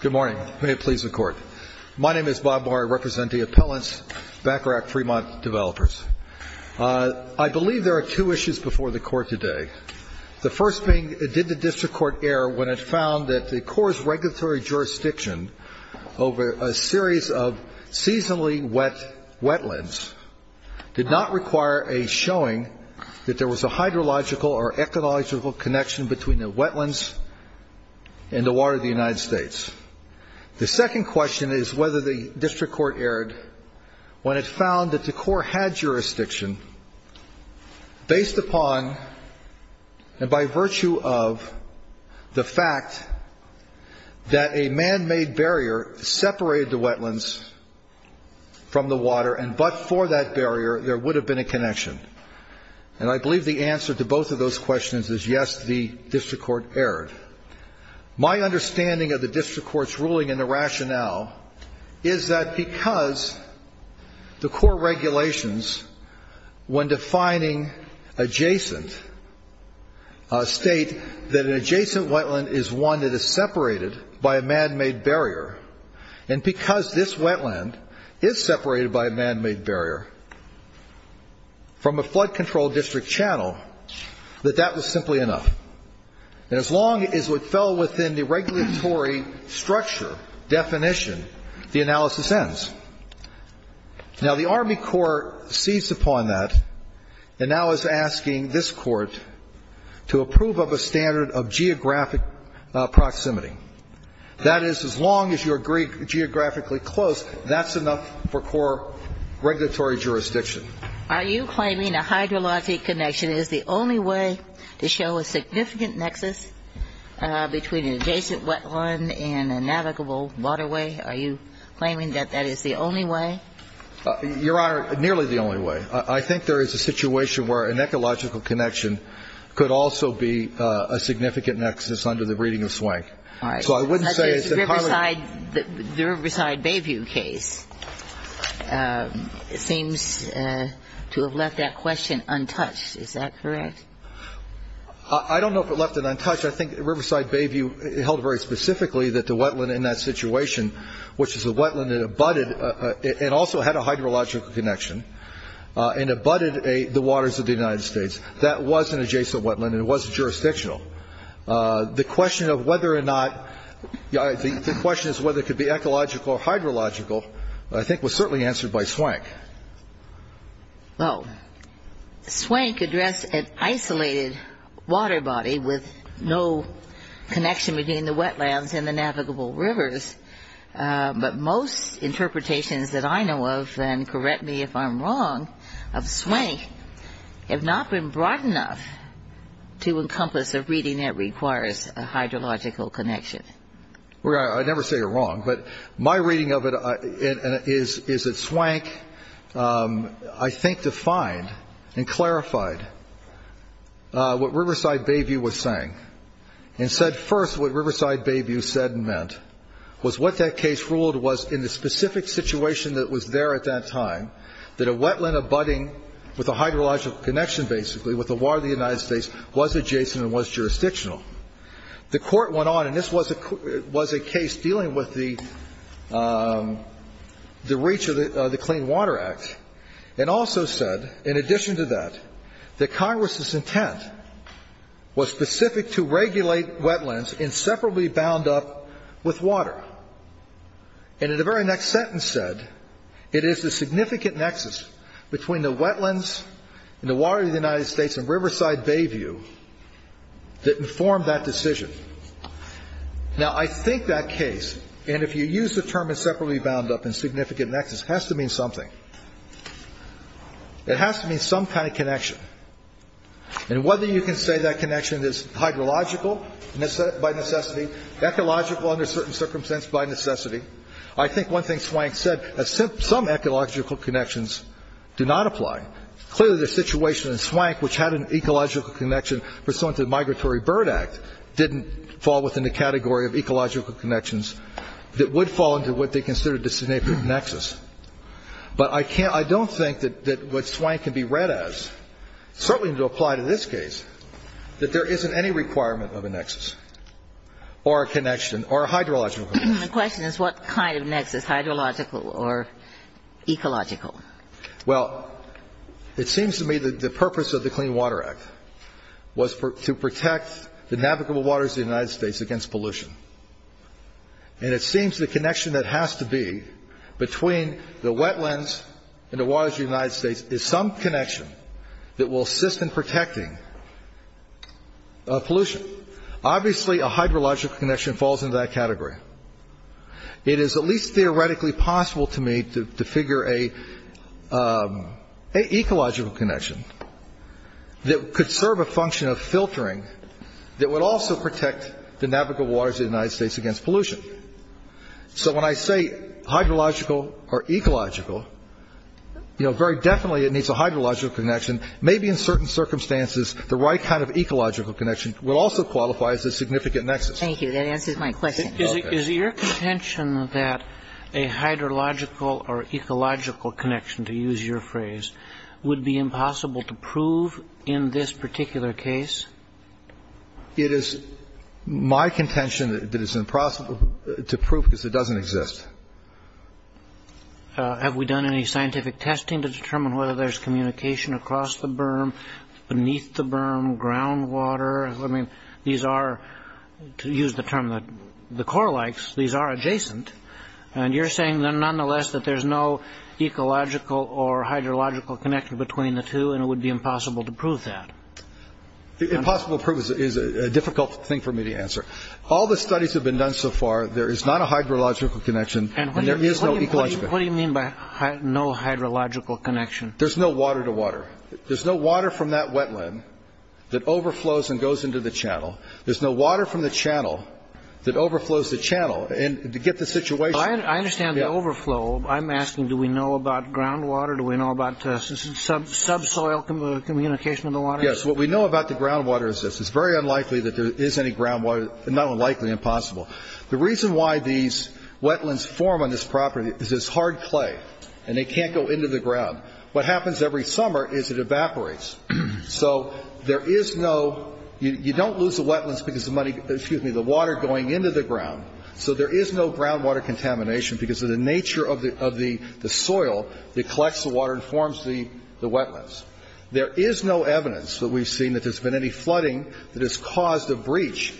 Good morning. May it please the Court. My name is Bob Maury. I represent the appellants, Baccarat Fremont developers. I believe there are two issues before the Court today. The first being, did the District Court err when it found that the Corps' regulatory jurisdiction over a series of seasonally wet wetlands did not require a showing that there was a hydrological or ecological connection between the wetlands and the water of the United States? The second question is whether the District Court erred when it found that the Corps had jurisdiction based upon and by virtue of the fact that a man-made barrier separated the wetlands from the water and but for that barrier there would have been a connection. And I believe the answer to both of those questions is yes, the District Court erred. My understanding of the District Court's ruling and the rationale is that because the Corps' regulations, when defining adjacent, state that an adjacent wetland is one that is separated by a man-made barrier and because this wetland is separated by a man-made barrier from a flood-controlled district channel, that that was simply enough. And as long as it fell within the regulatory structure definition, the analysis ends. Now, the Army Corps seized upon that and now is asking this Court to approve of a standard of geographic proximity. That is, as long as you agree geographically close, that's enough for Corps regulatory jurisdiction. Are you claiming a hydrologic connection is the only way to show a significant nexus between an adjacent wetland and a navigable waterway? Are you claiming that that is the only way? Your Honor, nearly the only way. I think there is a situation where an ecological connection could also be a significant nexus under the reading of Swank. All right. The Riverside Bayview case seems to have left that question untouched. Is that correct? I don't know if it left it untouched. I think Riverside Bayview held very specifically that the wetland in that situation, which is a wetland that abutted and also had a hydrological connection and abutted the waters of the United States, that was an adjacent wetland and it wasn't jurisdictional. The question of whether or not the question is whether it could be ecological or hydrological, I think was certainly answered by Swank. Well, Swank addressed an isolated water body with no connection between the wetlands and the navigable rivers. But most interpretations that I know of, and correct me if I'm wrong, of Swank, have not been broad enough to encompass a reading that requires a hydrological connection. I never say you're wrong, but my reading of it is that Swank, I think, defined and clarified what Riverside Bayview was saying and said first what Riverside Bayview said and meant, was what that case ruled was in the specific situation that was there at that time, that a wetland abutting with a hydrological connection, basically, with the water of the United States was adjacent and was jurisdictional. The Court went on, and this was a case dealing with the reach of the Clean Water Act, and also said, in addition to that, that Congress's intent was specific to regulate wetlands and separately bound up with water. And in the very next sentence said, it is the significant nexus between the wetlands and the water of the United States and Riverside Bayview that informed that decision. Now, I think that case, and if you use the term of separately bound up and significant nexus, has to mean something. It has to mean some kind of connection. And whether you can say that connection is hydrological by necessity, ecological under certain circumstances by necessity, I think one thing Swank said is some ecological connections do not apply. Clearly, the situation in Swank, which had an ecological connection pursuant to the Migratory Bird Act, didn't fall within the category of ecological connections that would fall into what they considered the significant nexus. But I don't think that what Swank can be read as, certainly to apply to this case, that there isn't any requirement of a nexus. Or a connection, or a hydrological connection. The question is what kind of nexus, hydrological or ecological? Well, it seems to me that the purpose of the Clean Water Act was to protect the navigable waters of the United States against pollution. And it seems the connection that has to be between the wetlands and the waters of the United States is some connection that will assist in protecting pollution. Obviously, a hydrological connection falls into that category. It is at least theoretically possible to me to figure an ecological connection that could serve a function of filtering that would also protect the navigable waters of the United States against pollution. So when I say hydrological or ecological, very definitely it needs a hydrological connection. Maybe in certain circumstances, the right kind of ecological connection will also qualify as a significant nexus. Thank you. That answers my question. Is it your contention that a hydrological or ecological connection, to use your phrase, would be impossible to prove in this particular case? It is my contention that it's impossible to prove because it doesn't exist. Have we done any scientific testing to determine whether there's communication across the berm, beneath the berm, groundwater? I mean, these are, to use the term that the Corps likes, these are adjacent. And you're saying, then, nonetheless, that there's no ecological or hydrological connection between the two and it would be impossible to prove that. Impossible to prove is a difficult thing for me to answer. All the studies that have been done so far, there is not a hydrological connection and there is no ecological connection. What do you mean by no hydrological connection? There's no water to water. There's no water from that wetland that overflows and goes into the channel. There's no water from the channel that overflows the channel. And to get the situation. I understand the overflow. I'm asking, do we know about groundwater? Do we know about subsoil communication with the water? Yes. What we know about the groundwater is this. It's very unlikely that there is any groundwater, not unlikely, impossible. The reason why these wetlands form on this property is it's hard clay and it can't go into the ground. What happens every summer is it evaporates. So there is no, you don't lose the wetlands because the money, excuse me, the water going into the ground. So there is no groundwater contamination because of the nature of the soil that collects the water and forms the wetlands. There is no evidence that we've seen that there's been any flooding that has caused a breach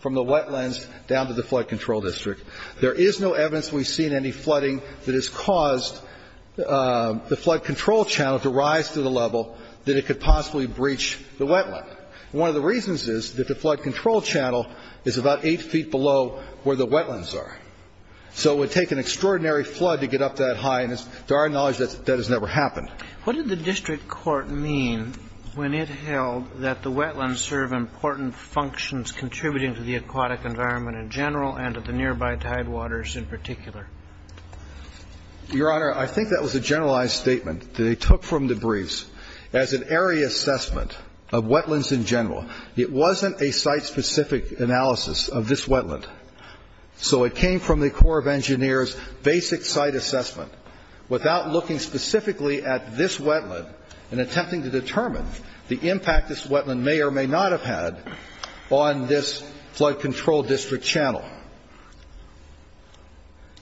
from the wetlands down to the flood control district. There is no evidence we've seen any flooding that has caused the flood control channel to rise to the level that it could possibly breach the wetland. One of the reasons is that the flood control channel is about eight feet below where the wetlands are. So it would take an extraordinary flood to get up that high, and to our knowledge that has never happened. What did the district court mean when it held that the wetlands serve important functions contributing to the aquatic environment in general and to the nearby tidewaters in particular? Your Honor, I think that was a generalized statement that they took from the briefs as an area assessment of wetlands in general. It wasn't a site-specific analysis of this wetland. So it came from the Corps of Engineers basic site assessment without looking specifically at this wetland and attempting to determine the impact this wetland may or may not have had on this flood control district channel.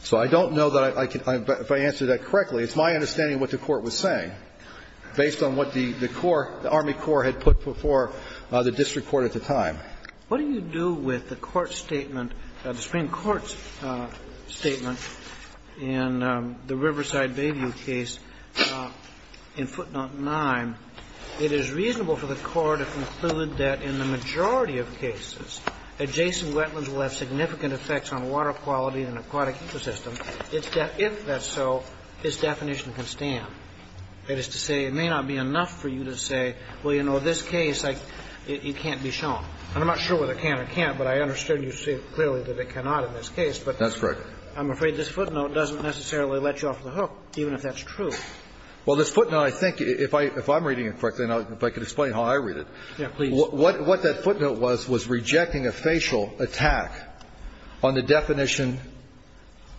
So I don't know that I can – if I answered that correctly. It's my understanding of what the Court was saying based on what the Corps, the Army Corps had put before the district court at the time. What do you do with the court statement, the Supreme Court's statement in the Riverside Bayview case in footnote 9? It is reasonable for the court to conclude that in the majority of cases, adjacent wetlands will have significant effects on water quality and aquatic ecosystem. If that's so, its definition can stand. That is to say, it may not be enough for you to say, well, you know, this case, it can't be shown. And I'm not sure whether it can or can't, but I understood you say clearly that it cannot in this case. But I'm afraid this footnote doesn't necessarily let you off the hook, even if that's Well, this footnote, I think, if I'm reading it correctly, if I can explain how I read it, what that footnote was, was rejecting a facial attack on the definition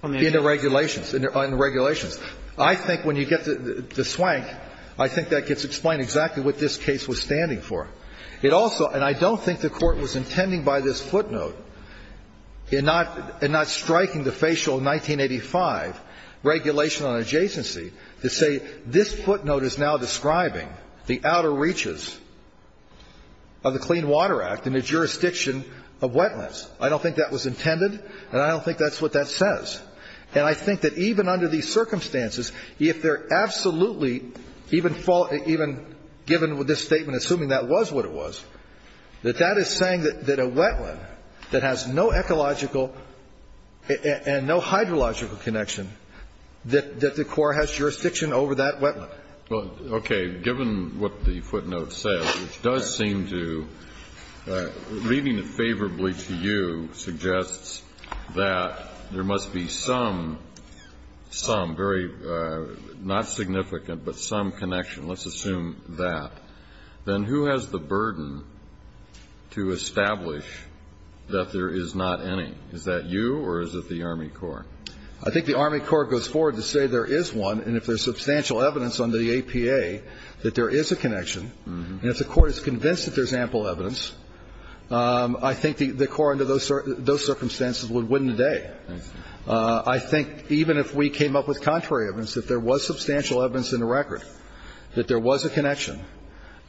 in the regulations, on the regulations. I think when you get to the swank, I think that gets explained exactly what this case was standing for. It also – and I don't think the Court was intending by this footnote in not striking the facial 1985 regulation on adjacency to say this footnote is now describing the outer reaches of the Clean Water Act and the jurisdiction of wetlands. I don't think that was intended, and I don't think that's what that says. And I think that even under these circumstances, if they're absolutely, even given this statement, assuming that was what it was, that that is saying that a wetland that has no ecological and no hydrological connection, that the court has jurisdiction over that wetland. Well, okay. Given what the footnote says, which does seem to, reading it favorably to you, suggests that there must be some, some very, not significant, but some connection, let's assume that, then who has the burden to establish that there is not any? Is that you or is it the Army Corps? I think the Army Corps goes forward to say there is one, and if there's substantial evidence under the APA that there is a connection, and if the Court is convinced that there's ample evidence, I think the Corps under those circumstances would win the day. I think even if we came up with contrary evidence, if there was substantial evidence in the record that there was a connection,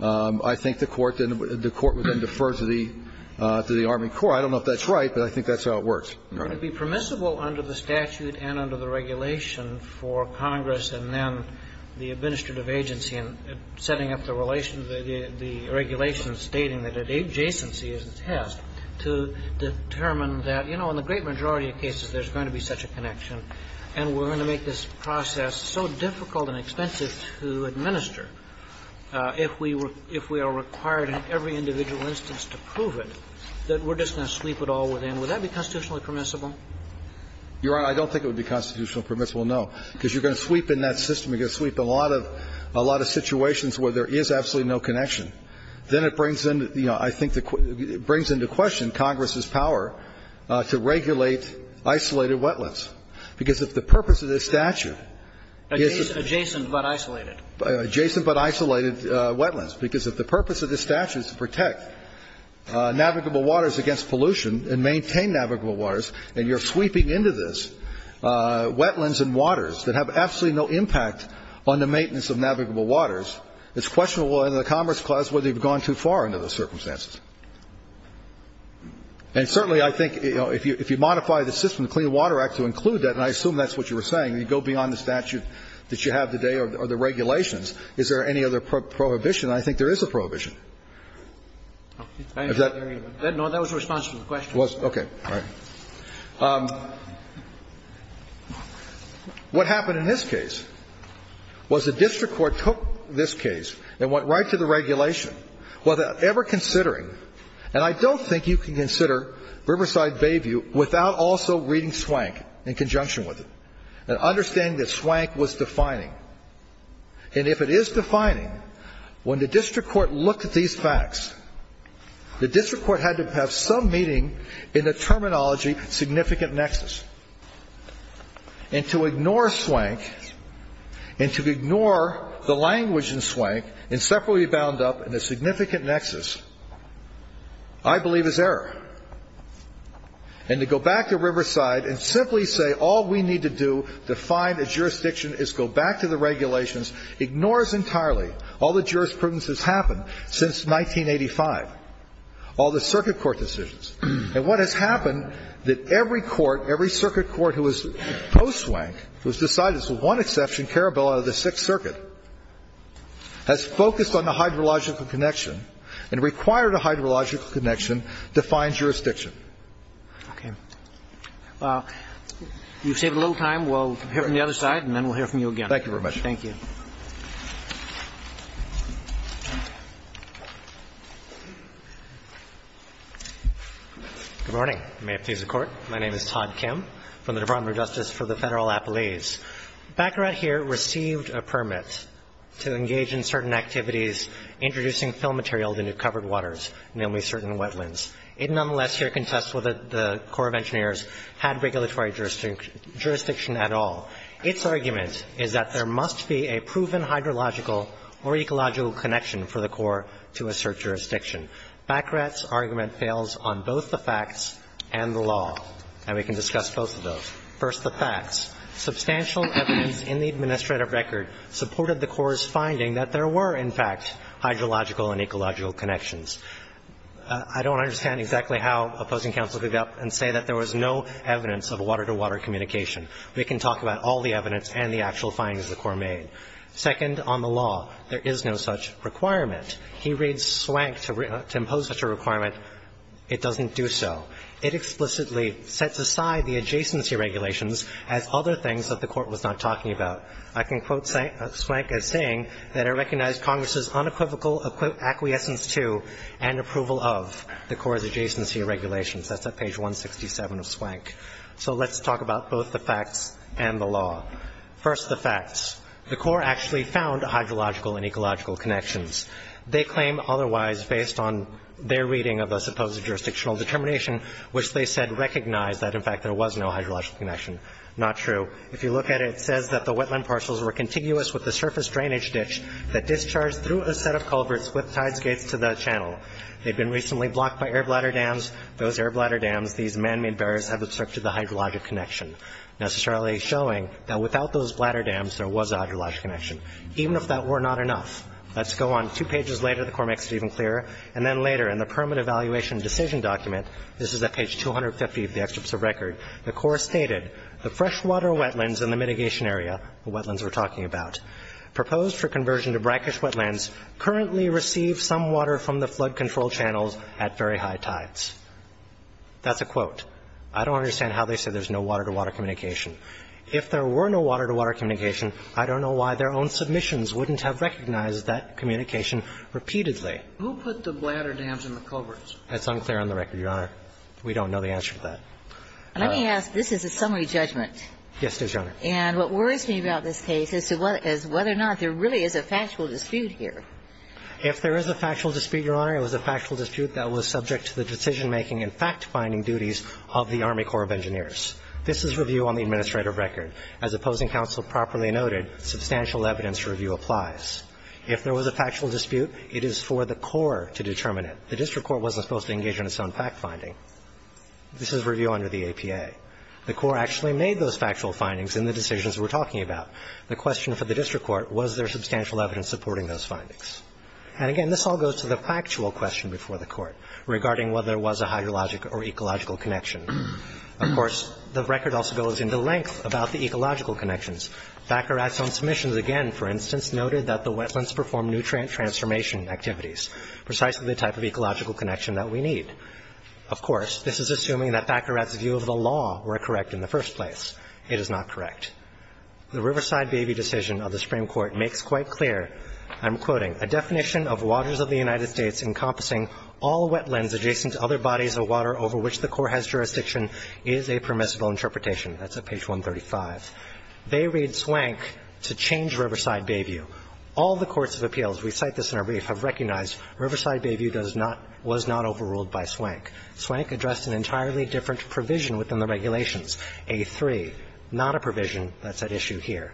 I think the Court would then defer to the Army Corps. I don't know if that's right, but I think that's how it works. All right. But it would be permissible under the statute and under the regulation for Congress and then the administrative agency in setting up the relations, the regulations stating that adjacency is a test to determine that, you know, in the great majority of cases there's going to be such a connection, and we're going to make this process so difficult and expensive to administer, if we are required in every individual instance to prove it, that we're just going to sweep it all within. Would that be constitutionally permissible? Your Honor, I don't think it would be constitutionally permissible, no. Because you're going to sweep in that system. You're going to sweep in a lot of situations where there is absolutely no connection. Then it brings in, you know, I think it brings into question Congress's power to regulate isolated wetlands. Because if the purpose of this statute is to protect navigable waters against pollution and maintain navigable waters, and you're sweeping into this wetlands and waters that have absolutely no impact on the maintenance of navigable waters, it's questionable under the Commerce Clause whether you've gone too far under those circumstances. And certainly I think, you know, if you modify the system, the Clean Water Act to include that, and I assume that's what you were saying, you go beyond the statute that you have today or the regulations. Is there any other prohibition? I think there is a prohibition. Is that? No, that was a response to the question. Okay. All right. What happened in this case was the district court took this case and went right to the regulation without ever considering, and I don't think you can consider Riverside Bayview without also reading Swank in conjunction with it and understanding that Swank was defining. And if it is defining, when the district court looked at these facts, the district court had to have some meaning in the terminology significant nexus. And to ignore Swank and to ignore the language in Swank and separately bound up in a significant nexus I believe is error. And to go back to Riverside and simply say all we need to do to find a jurisdiction is go back to the regulations ignores entirely all the jurisprudence that's happened since 1985, all the circuit court decisions. And what has happened that every court, every circuit court who is post-Swank who has decided it's the one exception, Carabello, out of the Sixth Circuit, has focused on the hydrological connection and required a hydrological connection to find jurisdiction. Okay. Well, you've saved a little time. We'll hear from the other side and then we'll hear from you again. Thank you very much. Thank you. Thank you. Good morning. May it please the Court. My name is Todd Kim from the Department of Justice for the Federal Appellees. Baccarat here received a permit to engage in certain activities introducing fill material into covered waters, namely certain wetlands. It nonetheless here contests whether the Corps of Engineers had regulatory jurisdiction at all. Its argument is that there must be a proven hydrological or ecological connection for the Corps to assert jurisdiction. Baccarat's argument fails on both the facts and the law. And we can discuss both of those. First, the facts. Substantial evidence in the administrative record supported the Corps' finding that there were, in fact, hydrological and ecological connections. I don't understand exactly how opposing counsel could say that there was no evidence of water-to-water communication. We can talk about all the evidence and the actual findings the Corps made. Second, on the law, there is no such requirement. He reads Swank to impose such a requirement. It doesn't do so. It explicitly sets aside the adjacency regulations as other things that the Court was not talking about. I can quote Swank as saying that I recognize Congress' unequivocal acquiescence to and approval of the Corps' adjacency regulations. That's at page 167 of Swank. So let's talk about both the facts and the law. First, the facts. The Corps actually found hydrological and ecological connections. They claim otherwise based on their reading of the supposed jurisdictional determination, which they said recognized that, in fact, there was no hydrological connection. Not true. If you look at it, it says that the wetland parcels were contiguous with the surface drainage ditch that discharged through a set of culverts with tides gates to the channel. They'd been recently blocked by air bladder dams. Those air bladder dams, these man-made barriers have obstructed the hydrologic connection, necessarily showing that without those bladder dams, there was a hydrologic connection, even if that were not enough. Let's go on two pages later. The Corps makes it even clearer. And then later in the permit evaluation decision document, this is at page 250 of the excerpt of the record, the Corps stated the freshwater wetlands in the mitigation area, the wetlands we're talking about, proposed for conversion to brackish wetlands currently receive some water from the That's a quote. I don't understand how they say there's no water-to-water communication. If there were no water-to-water communication, I don't know why their own submissions wouldn't have recognized that communication repeatedly. Who put the bladder dams in the culverts? That's unclear on the record, Your Honor. We don't know the answer to that. Let me ask. This is a summary judgment. Yes, it is, Your Honor. And what worries me about this case is whether or not there really is a factual dispute here. If there is a factual dispute, Your Honor, it was a factual dispute that was subject to the decision-making and fact-finding duties of the Army Corps of Engineers. This is review on the administrative record. As opposing counsel properly noted, substantial evidence review applies. If there was a factual dispute, it is for the Corps to determine it. The district court wasn't supposed to engage in its own fact-finding. This is review under the APA. The Corps actually made those factual findings in the decisions we're talking about. The question for the district court, was there substantial evidence supporting those findings? And again, this all goes to the factual question before the court regarding whether there was a hydrologic or ecological connection. Of course, the record also goes into length about the ecological connections. Thackeratt's own submissions, again, for instance, noted that the wetlands performed nutrient transformation activities, precisely the type of ecological connection that we need. Of course, this is assuming that Thackeratt's view of the law were correct in the first place. It is not correct. The Riverside baby decision of the Supreme Court makes quite clear, I'm quoting, a definition of waters of the United States encompassing all wetlands adjacent to other bodies of water over which the Corps has jurisdiction is a permissible interpretation. That's at page 135. They read Swank to change Riverside Bayview. All the courts of appeals, we cite this in our brief, have recognized Riverside Bayview does not, was not overruled by Swank. Swank addressed an entirely different provision within the regulations, A3, not a provision that's at issue here.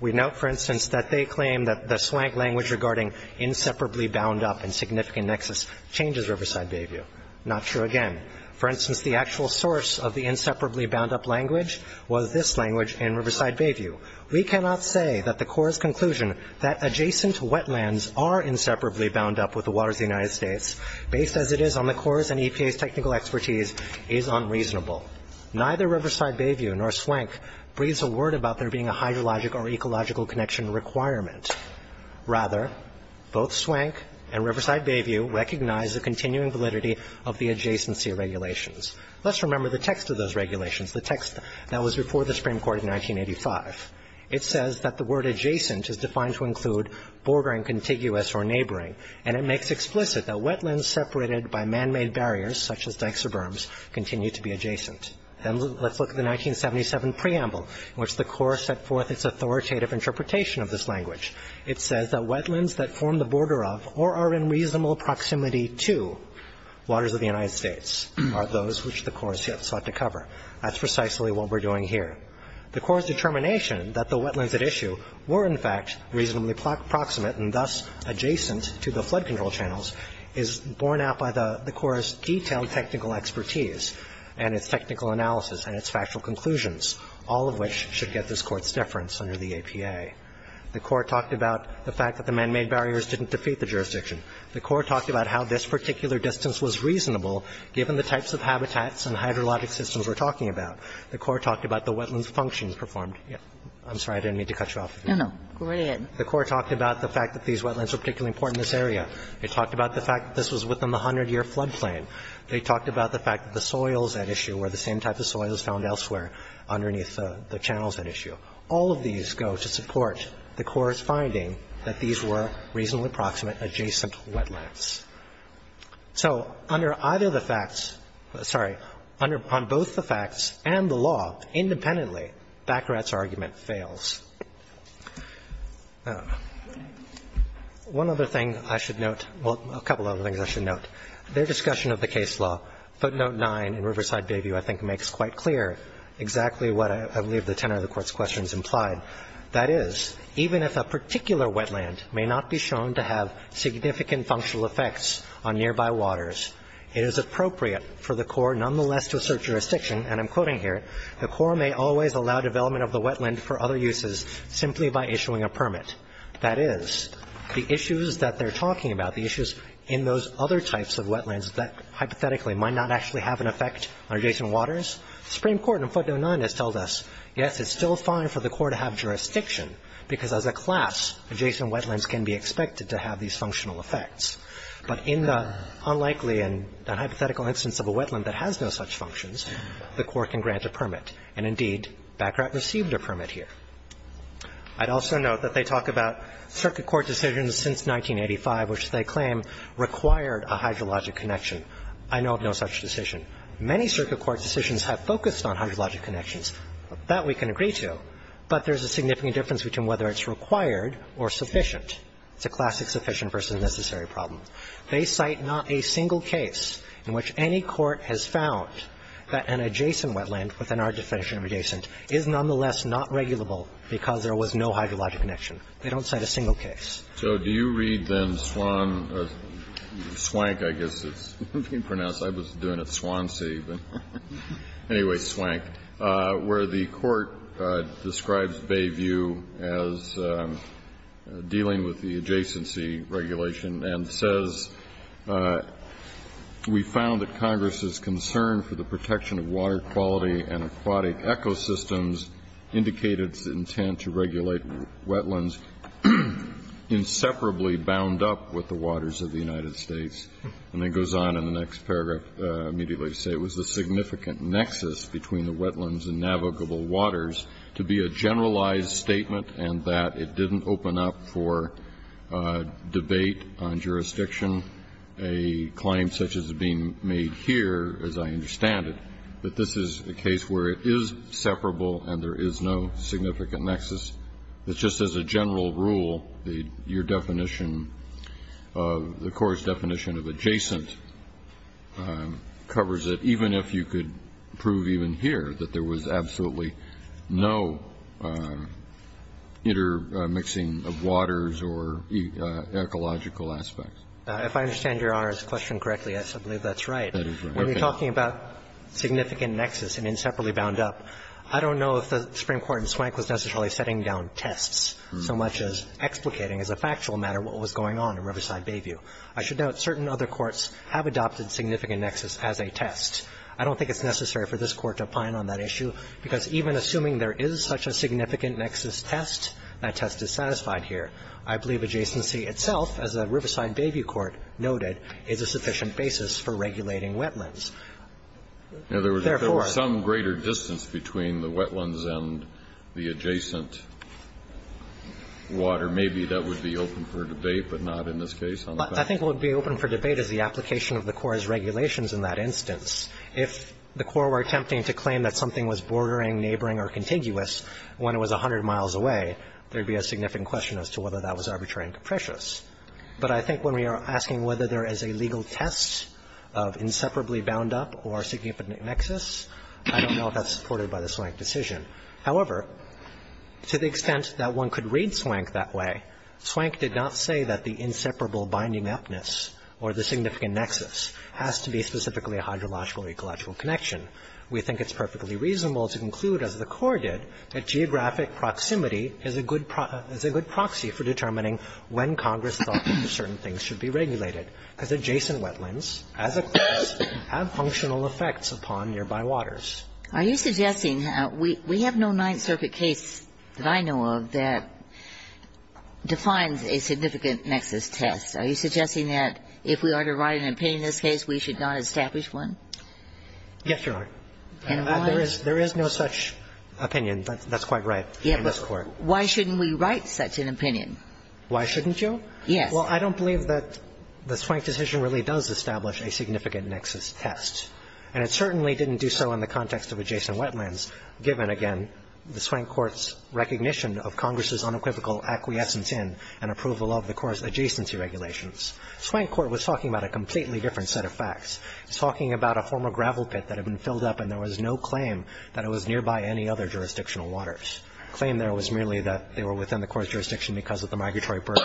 We note, for instance, that they claim that the Swank language regarding inseparably bound up and significant nexus changes Riverside Bayview. Not true again. For instance, the actual source of the inseparably bound up language was this language in Riverside Bayview. We cannot say that the Corps' conclusion that adjacent wetlands are inseparably bound up with the waters of the United States, based as it is on the Corps' and EPA's technical expertise, is unreasonable. Neither Riverside Bayview nor Swank breathes a word about there being a hydrologic or ecological connection requirement. Rather, both Swank and Riverside Bayview recognize the continuing validity of the adjacency regulations. Let's remember the text of those regulations, the text that was before the Supreme Court in 1985. It says that the word adjacent is defined to include bordering contiguous or neighboring, and it makes explicit that wetlands separated by manmade barriers, such as dykes or berms, continue to be adjacent. And let's look at the 1977 preamble in which the Corps set forth its authoritative interpretation of this language. It says that wetlands that form the border of or are in reasonable proximity to waters of the United States are those which the Corps has yet sought to cover. That's precisely what we're doing here. The Corps' determination that the wetlands at issue were, in fact, reasonably proximate and thus adjacent to the flood control channels is borne out by the Court's profound technical expertise and its technical analysis and its factual conclusions, all of which should get this Court's deference under the APA. The Corps talked about the fact that the manmade barriers didn't defeat the jurisdiction. The Corps talked about how this particular distance was reasonable, given the types of habitats and hydrologic systems we're talking about. The Corps talked about the wetlands functions performed. I'm sorry. I didn't mean to cut you off. Kagan. The Corps talked about the fact that these wetlands were particularly important in this area. They talked about the fact that this was within the 100-year flood plain. They talked about the fact that the soils at issue were the same type of soils found elsewhere underneath the channels at issue. All of these go to support the Corps' finding that these were reasonably proximate, adjacent wetlands. So under either the facts – sorry, under – on both the facts and the law independently, Baccarat's argument fails. One other thing I should note – well, a couple other things I should note. Their discussion of the case law, footnote 9 in Riverside Bayview, I think makes quite clear exactly what I believe the tenor of the Court's questions implied. That is, even if a particular wetland may not be shown to have significant functional effects on nearby waters, it is appropriate for the Corps nonetheless to assert jurisdiction, and I'm quoting here, the Corps may always allow development of the wetland for other uses simply by issuing a permit. That is, the issues that they're talking about, the issues in those other types of wetlands that hypothetically might not actually have an effect on adjacent waters, the Supreme Court in footnote 9 has told us, yes, it's still fine for the Corps to have jurisdiction, because as a class, adjacent wetlands can be expected to have these functional effects. But in the unlikely and hypothetical instance of a wetland that has no such functions, the Corps can grant a permit. And indeed, Baccarat received a permit here. I'd also note that they talk about circuit court decisions since 1985, which they claim required a hydrologic connection. I know of no such decision. Many circuit court decisions have focused on hydrologic connections. That we can agree to, but there's a significant difference between whether it's required or sufficient. It's a classic sufficient versus necessary problem. They cite not a single case in which any court has found that an adjacent wetland within our definition of adjacent is nonetheless not regulable because there was no hydrologic connection. They don't cite a single case. Kennedy. So do you read then Swan or Swank, I guess it's being pronounced. I was doing it Swansea. But anyway, Swank, where the Court describes Bayview as dealing with the adjacency regulation and says we found that Congress's concern for the protection of water quality and aquatic ecosystems indicated its intent to regulate wetlands inseparably bound up with the waters of the United States. And then goes on in the next paragraph immediately to say it was a significant nexus between the wetlands and navigable waters to be a generalized statement and that it didn't open up for debate on jurisdiction. A claim such as is being made here, as I understand it, that this is a case where it is separable and there is no significant nexus. It's just as a general rule, your definition, the Court's definition of adjacent covers it, even if you could prove even here that there was absolutely no intermixing of waters or ecological aspects. If I understand Your Honor's question correctly, yes, I believe that's right. That is right. When you're talking about significant nexus and inseparably bound up, I don't know if the Supreme Court in Swank was necessarily setting down tests so much as explicating as a factual matter what was going on in Riverside Bayview. I should note certain other courts have adopted significant nexus as a test. I don't think it's necessary for this Court to opine on that issue, because even assuming there is such a significant nexus test, that test is satisfied here. I believe adjacency itself, as the Riverside Bayview Court noted, is a sufficient basis for regulating wetlands. Therefore ---- There was some greater distance between the wetlands and the adjacent water. Maybe that would be open for debate, but not in this case. I think what would be open for debate is the application of the Court's regulations in that instance. If the Court were attempting to claim that something was bordering, neighboring or contiguous when it was 100 miles away, there would be a significant question as to whether that was arbitrary and capricious. But I think when we are asking whether there is a legal test of inseparably bound up or significant nexus, I don't know if that's supported by the Swank decision. However, to the extent that one could read Swank that way, Swank did not say that the inseparable binding upness or the significant nexus has to be specifically a hydrological or ecological connection. We think it's perfectly reasonable to conclude, as the Court did, that geographic proximity is a good proxy for determining when Congress thought certain things should be regulated, because adjacent wetlands, as a course, have functional effects upon nearby waters. Are you suggesting we have no Ninth Circuit case that I know of that defines a significant nexus test? Are you suggesting that if we are to write an opinion in this case, we should not establish one? Yes, Your Honor. And why? There is no such opinion. That's quite right in this Court. Yeah, but why shouldn't we write such an opinion? Why shouldn't you? Yes. Well, I don't believe that the Swank decision really does establish a significant nexus test, and it certainly didn't do so in the context of adjacent wetlands given, again, the Swank court's recognition of Congress's unequivocal acquiescence in and approval of the court's adjacency regulations. The Swank court was talking about a completely different set of facts. It was talking about a former gravel pit that had been filled up and there was no claim that it was nearby any other jurisdictional waters. The claim there was merely that they were within the court's jurisdiction because of the migratory burden.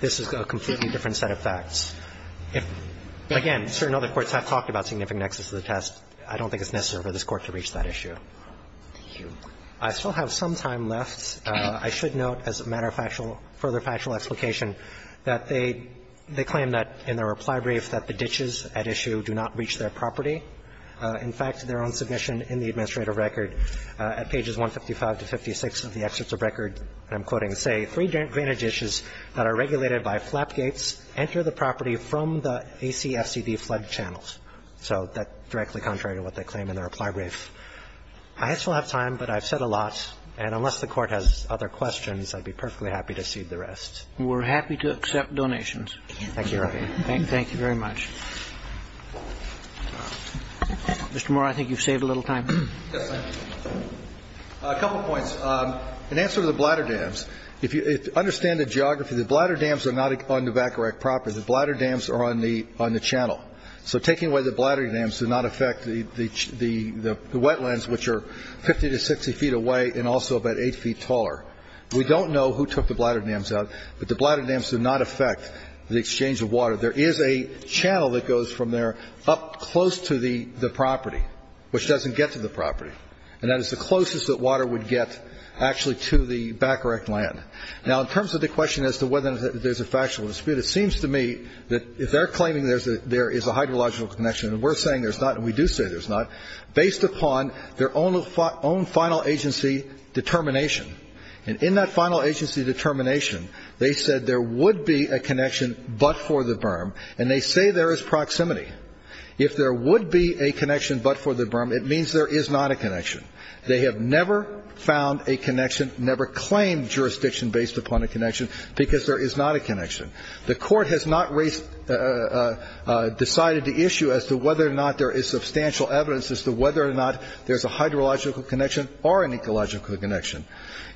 This is a completely different set of facts. Again, certain other courts have talked about significant nexus of the test. I don't think it's necessary for this Court to reach that issue. Thank you. I still have some time left. I should note as a matter of further factual explication that they claim that in their reply brief that the ditches at issue do not reach their property. In fact, their own submission in the administrative record at pages 155 to 56 of the excerpts of record, and I'm quoting, say three drainage ditches that are regulated by flap gates enter the property from the ACFCD flood channels. So that's directly contrary to what they claim in their reply brief. I still have time, but I've said a lot. And unless the Court has other questions, I'd be perfectly happy to cede the rest. We're happy to accept donations. Thank you, Your Honor. Thank you very much. Mr. Moore, I think you've saved a little time. Yes, I have. A couple points. In answer to the bladder dams, if you understand the geography, the bladder dams are not on the back of that property. The bladder dams are on the channel. So taking away the bladder dams does not affect the wetlands, which are 50 to 60 feet away and also about 8 feet taller. We don't know who took the bladder dams out, but the bladder dams do not affect the exchange of water. There is a channel that goes from there up close to the property, which doesn't get to the property, and that is the closest that water would get actually to the back-erect land. Now, in terms of the question as to whether there's a factual dispute, it seems to me that if they're claiming there is a hydrological connection, and we're saying there's not and we do say there's not, based upon their own final agency determination, and in that final agency determination, they said there would be a connection but for the berm, and they say there is proximity. If there would be a connection but for the berm, it means there is not a connection. They have never found a connection, never claimed jurisdiction based upon a connection because there is not a connection. The Court has not decided to issue as to whether or not there is substantial evidence as to whether or not there's a hydrological connection or an ecological connection.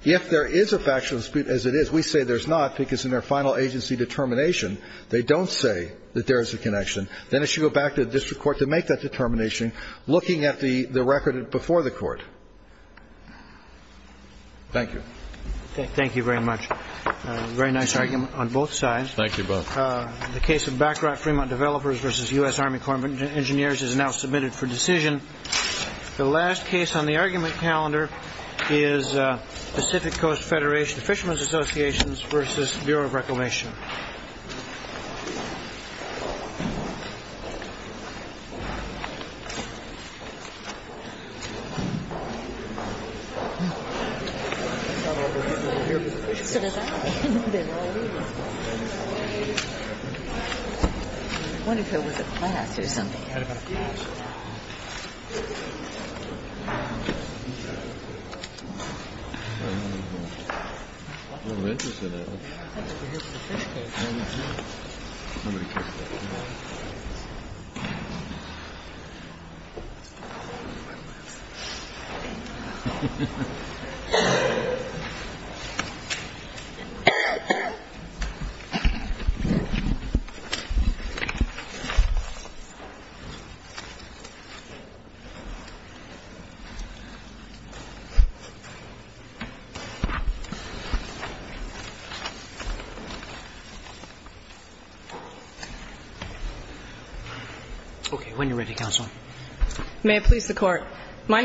If there is a factual dispute, as it is, we say there's not because in their final agency determination they don't say that there is a connection, then it should go back to the district court to make that determination looking at the record before the Court. Thank you. Roberts. Thank you very much. A very nice argument on both sides. Thank you both. The case of Back Rock Fremont Developers v. U.S. Army Corps of Engineers is now submitted for decision. The last case on the argument calendar is Pacific Coast Federation Fishermen's Associations v. Bureau of Reclamation. Thank you. When you're ready, counsel.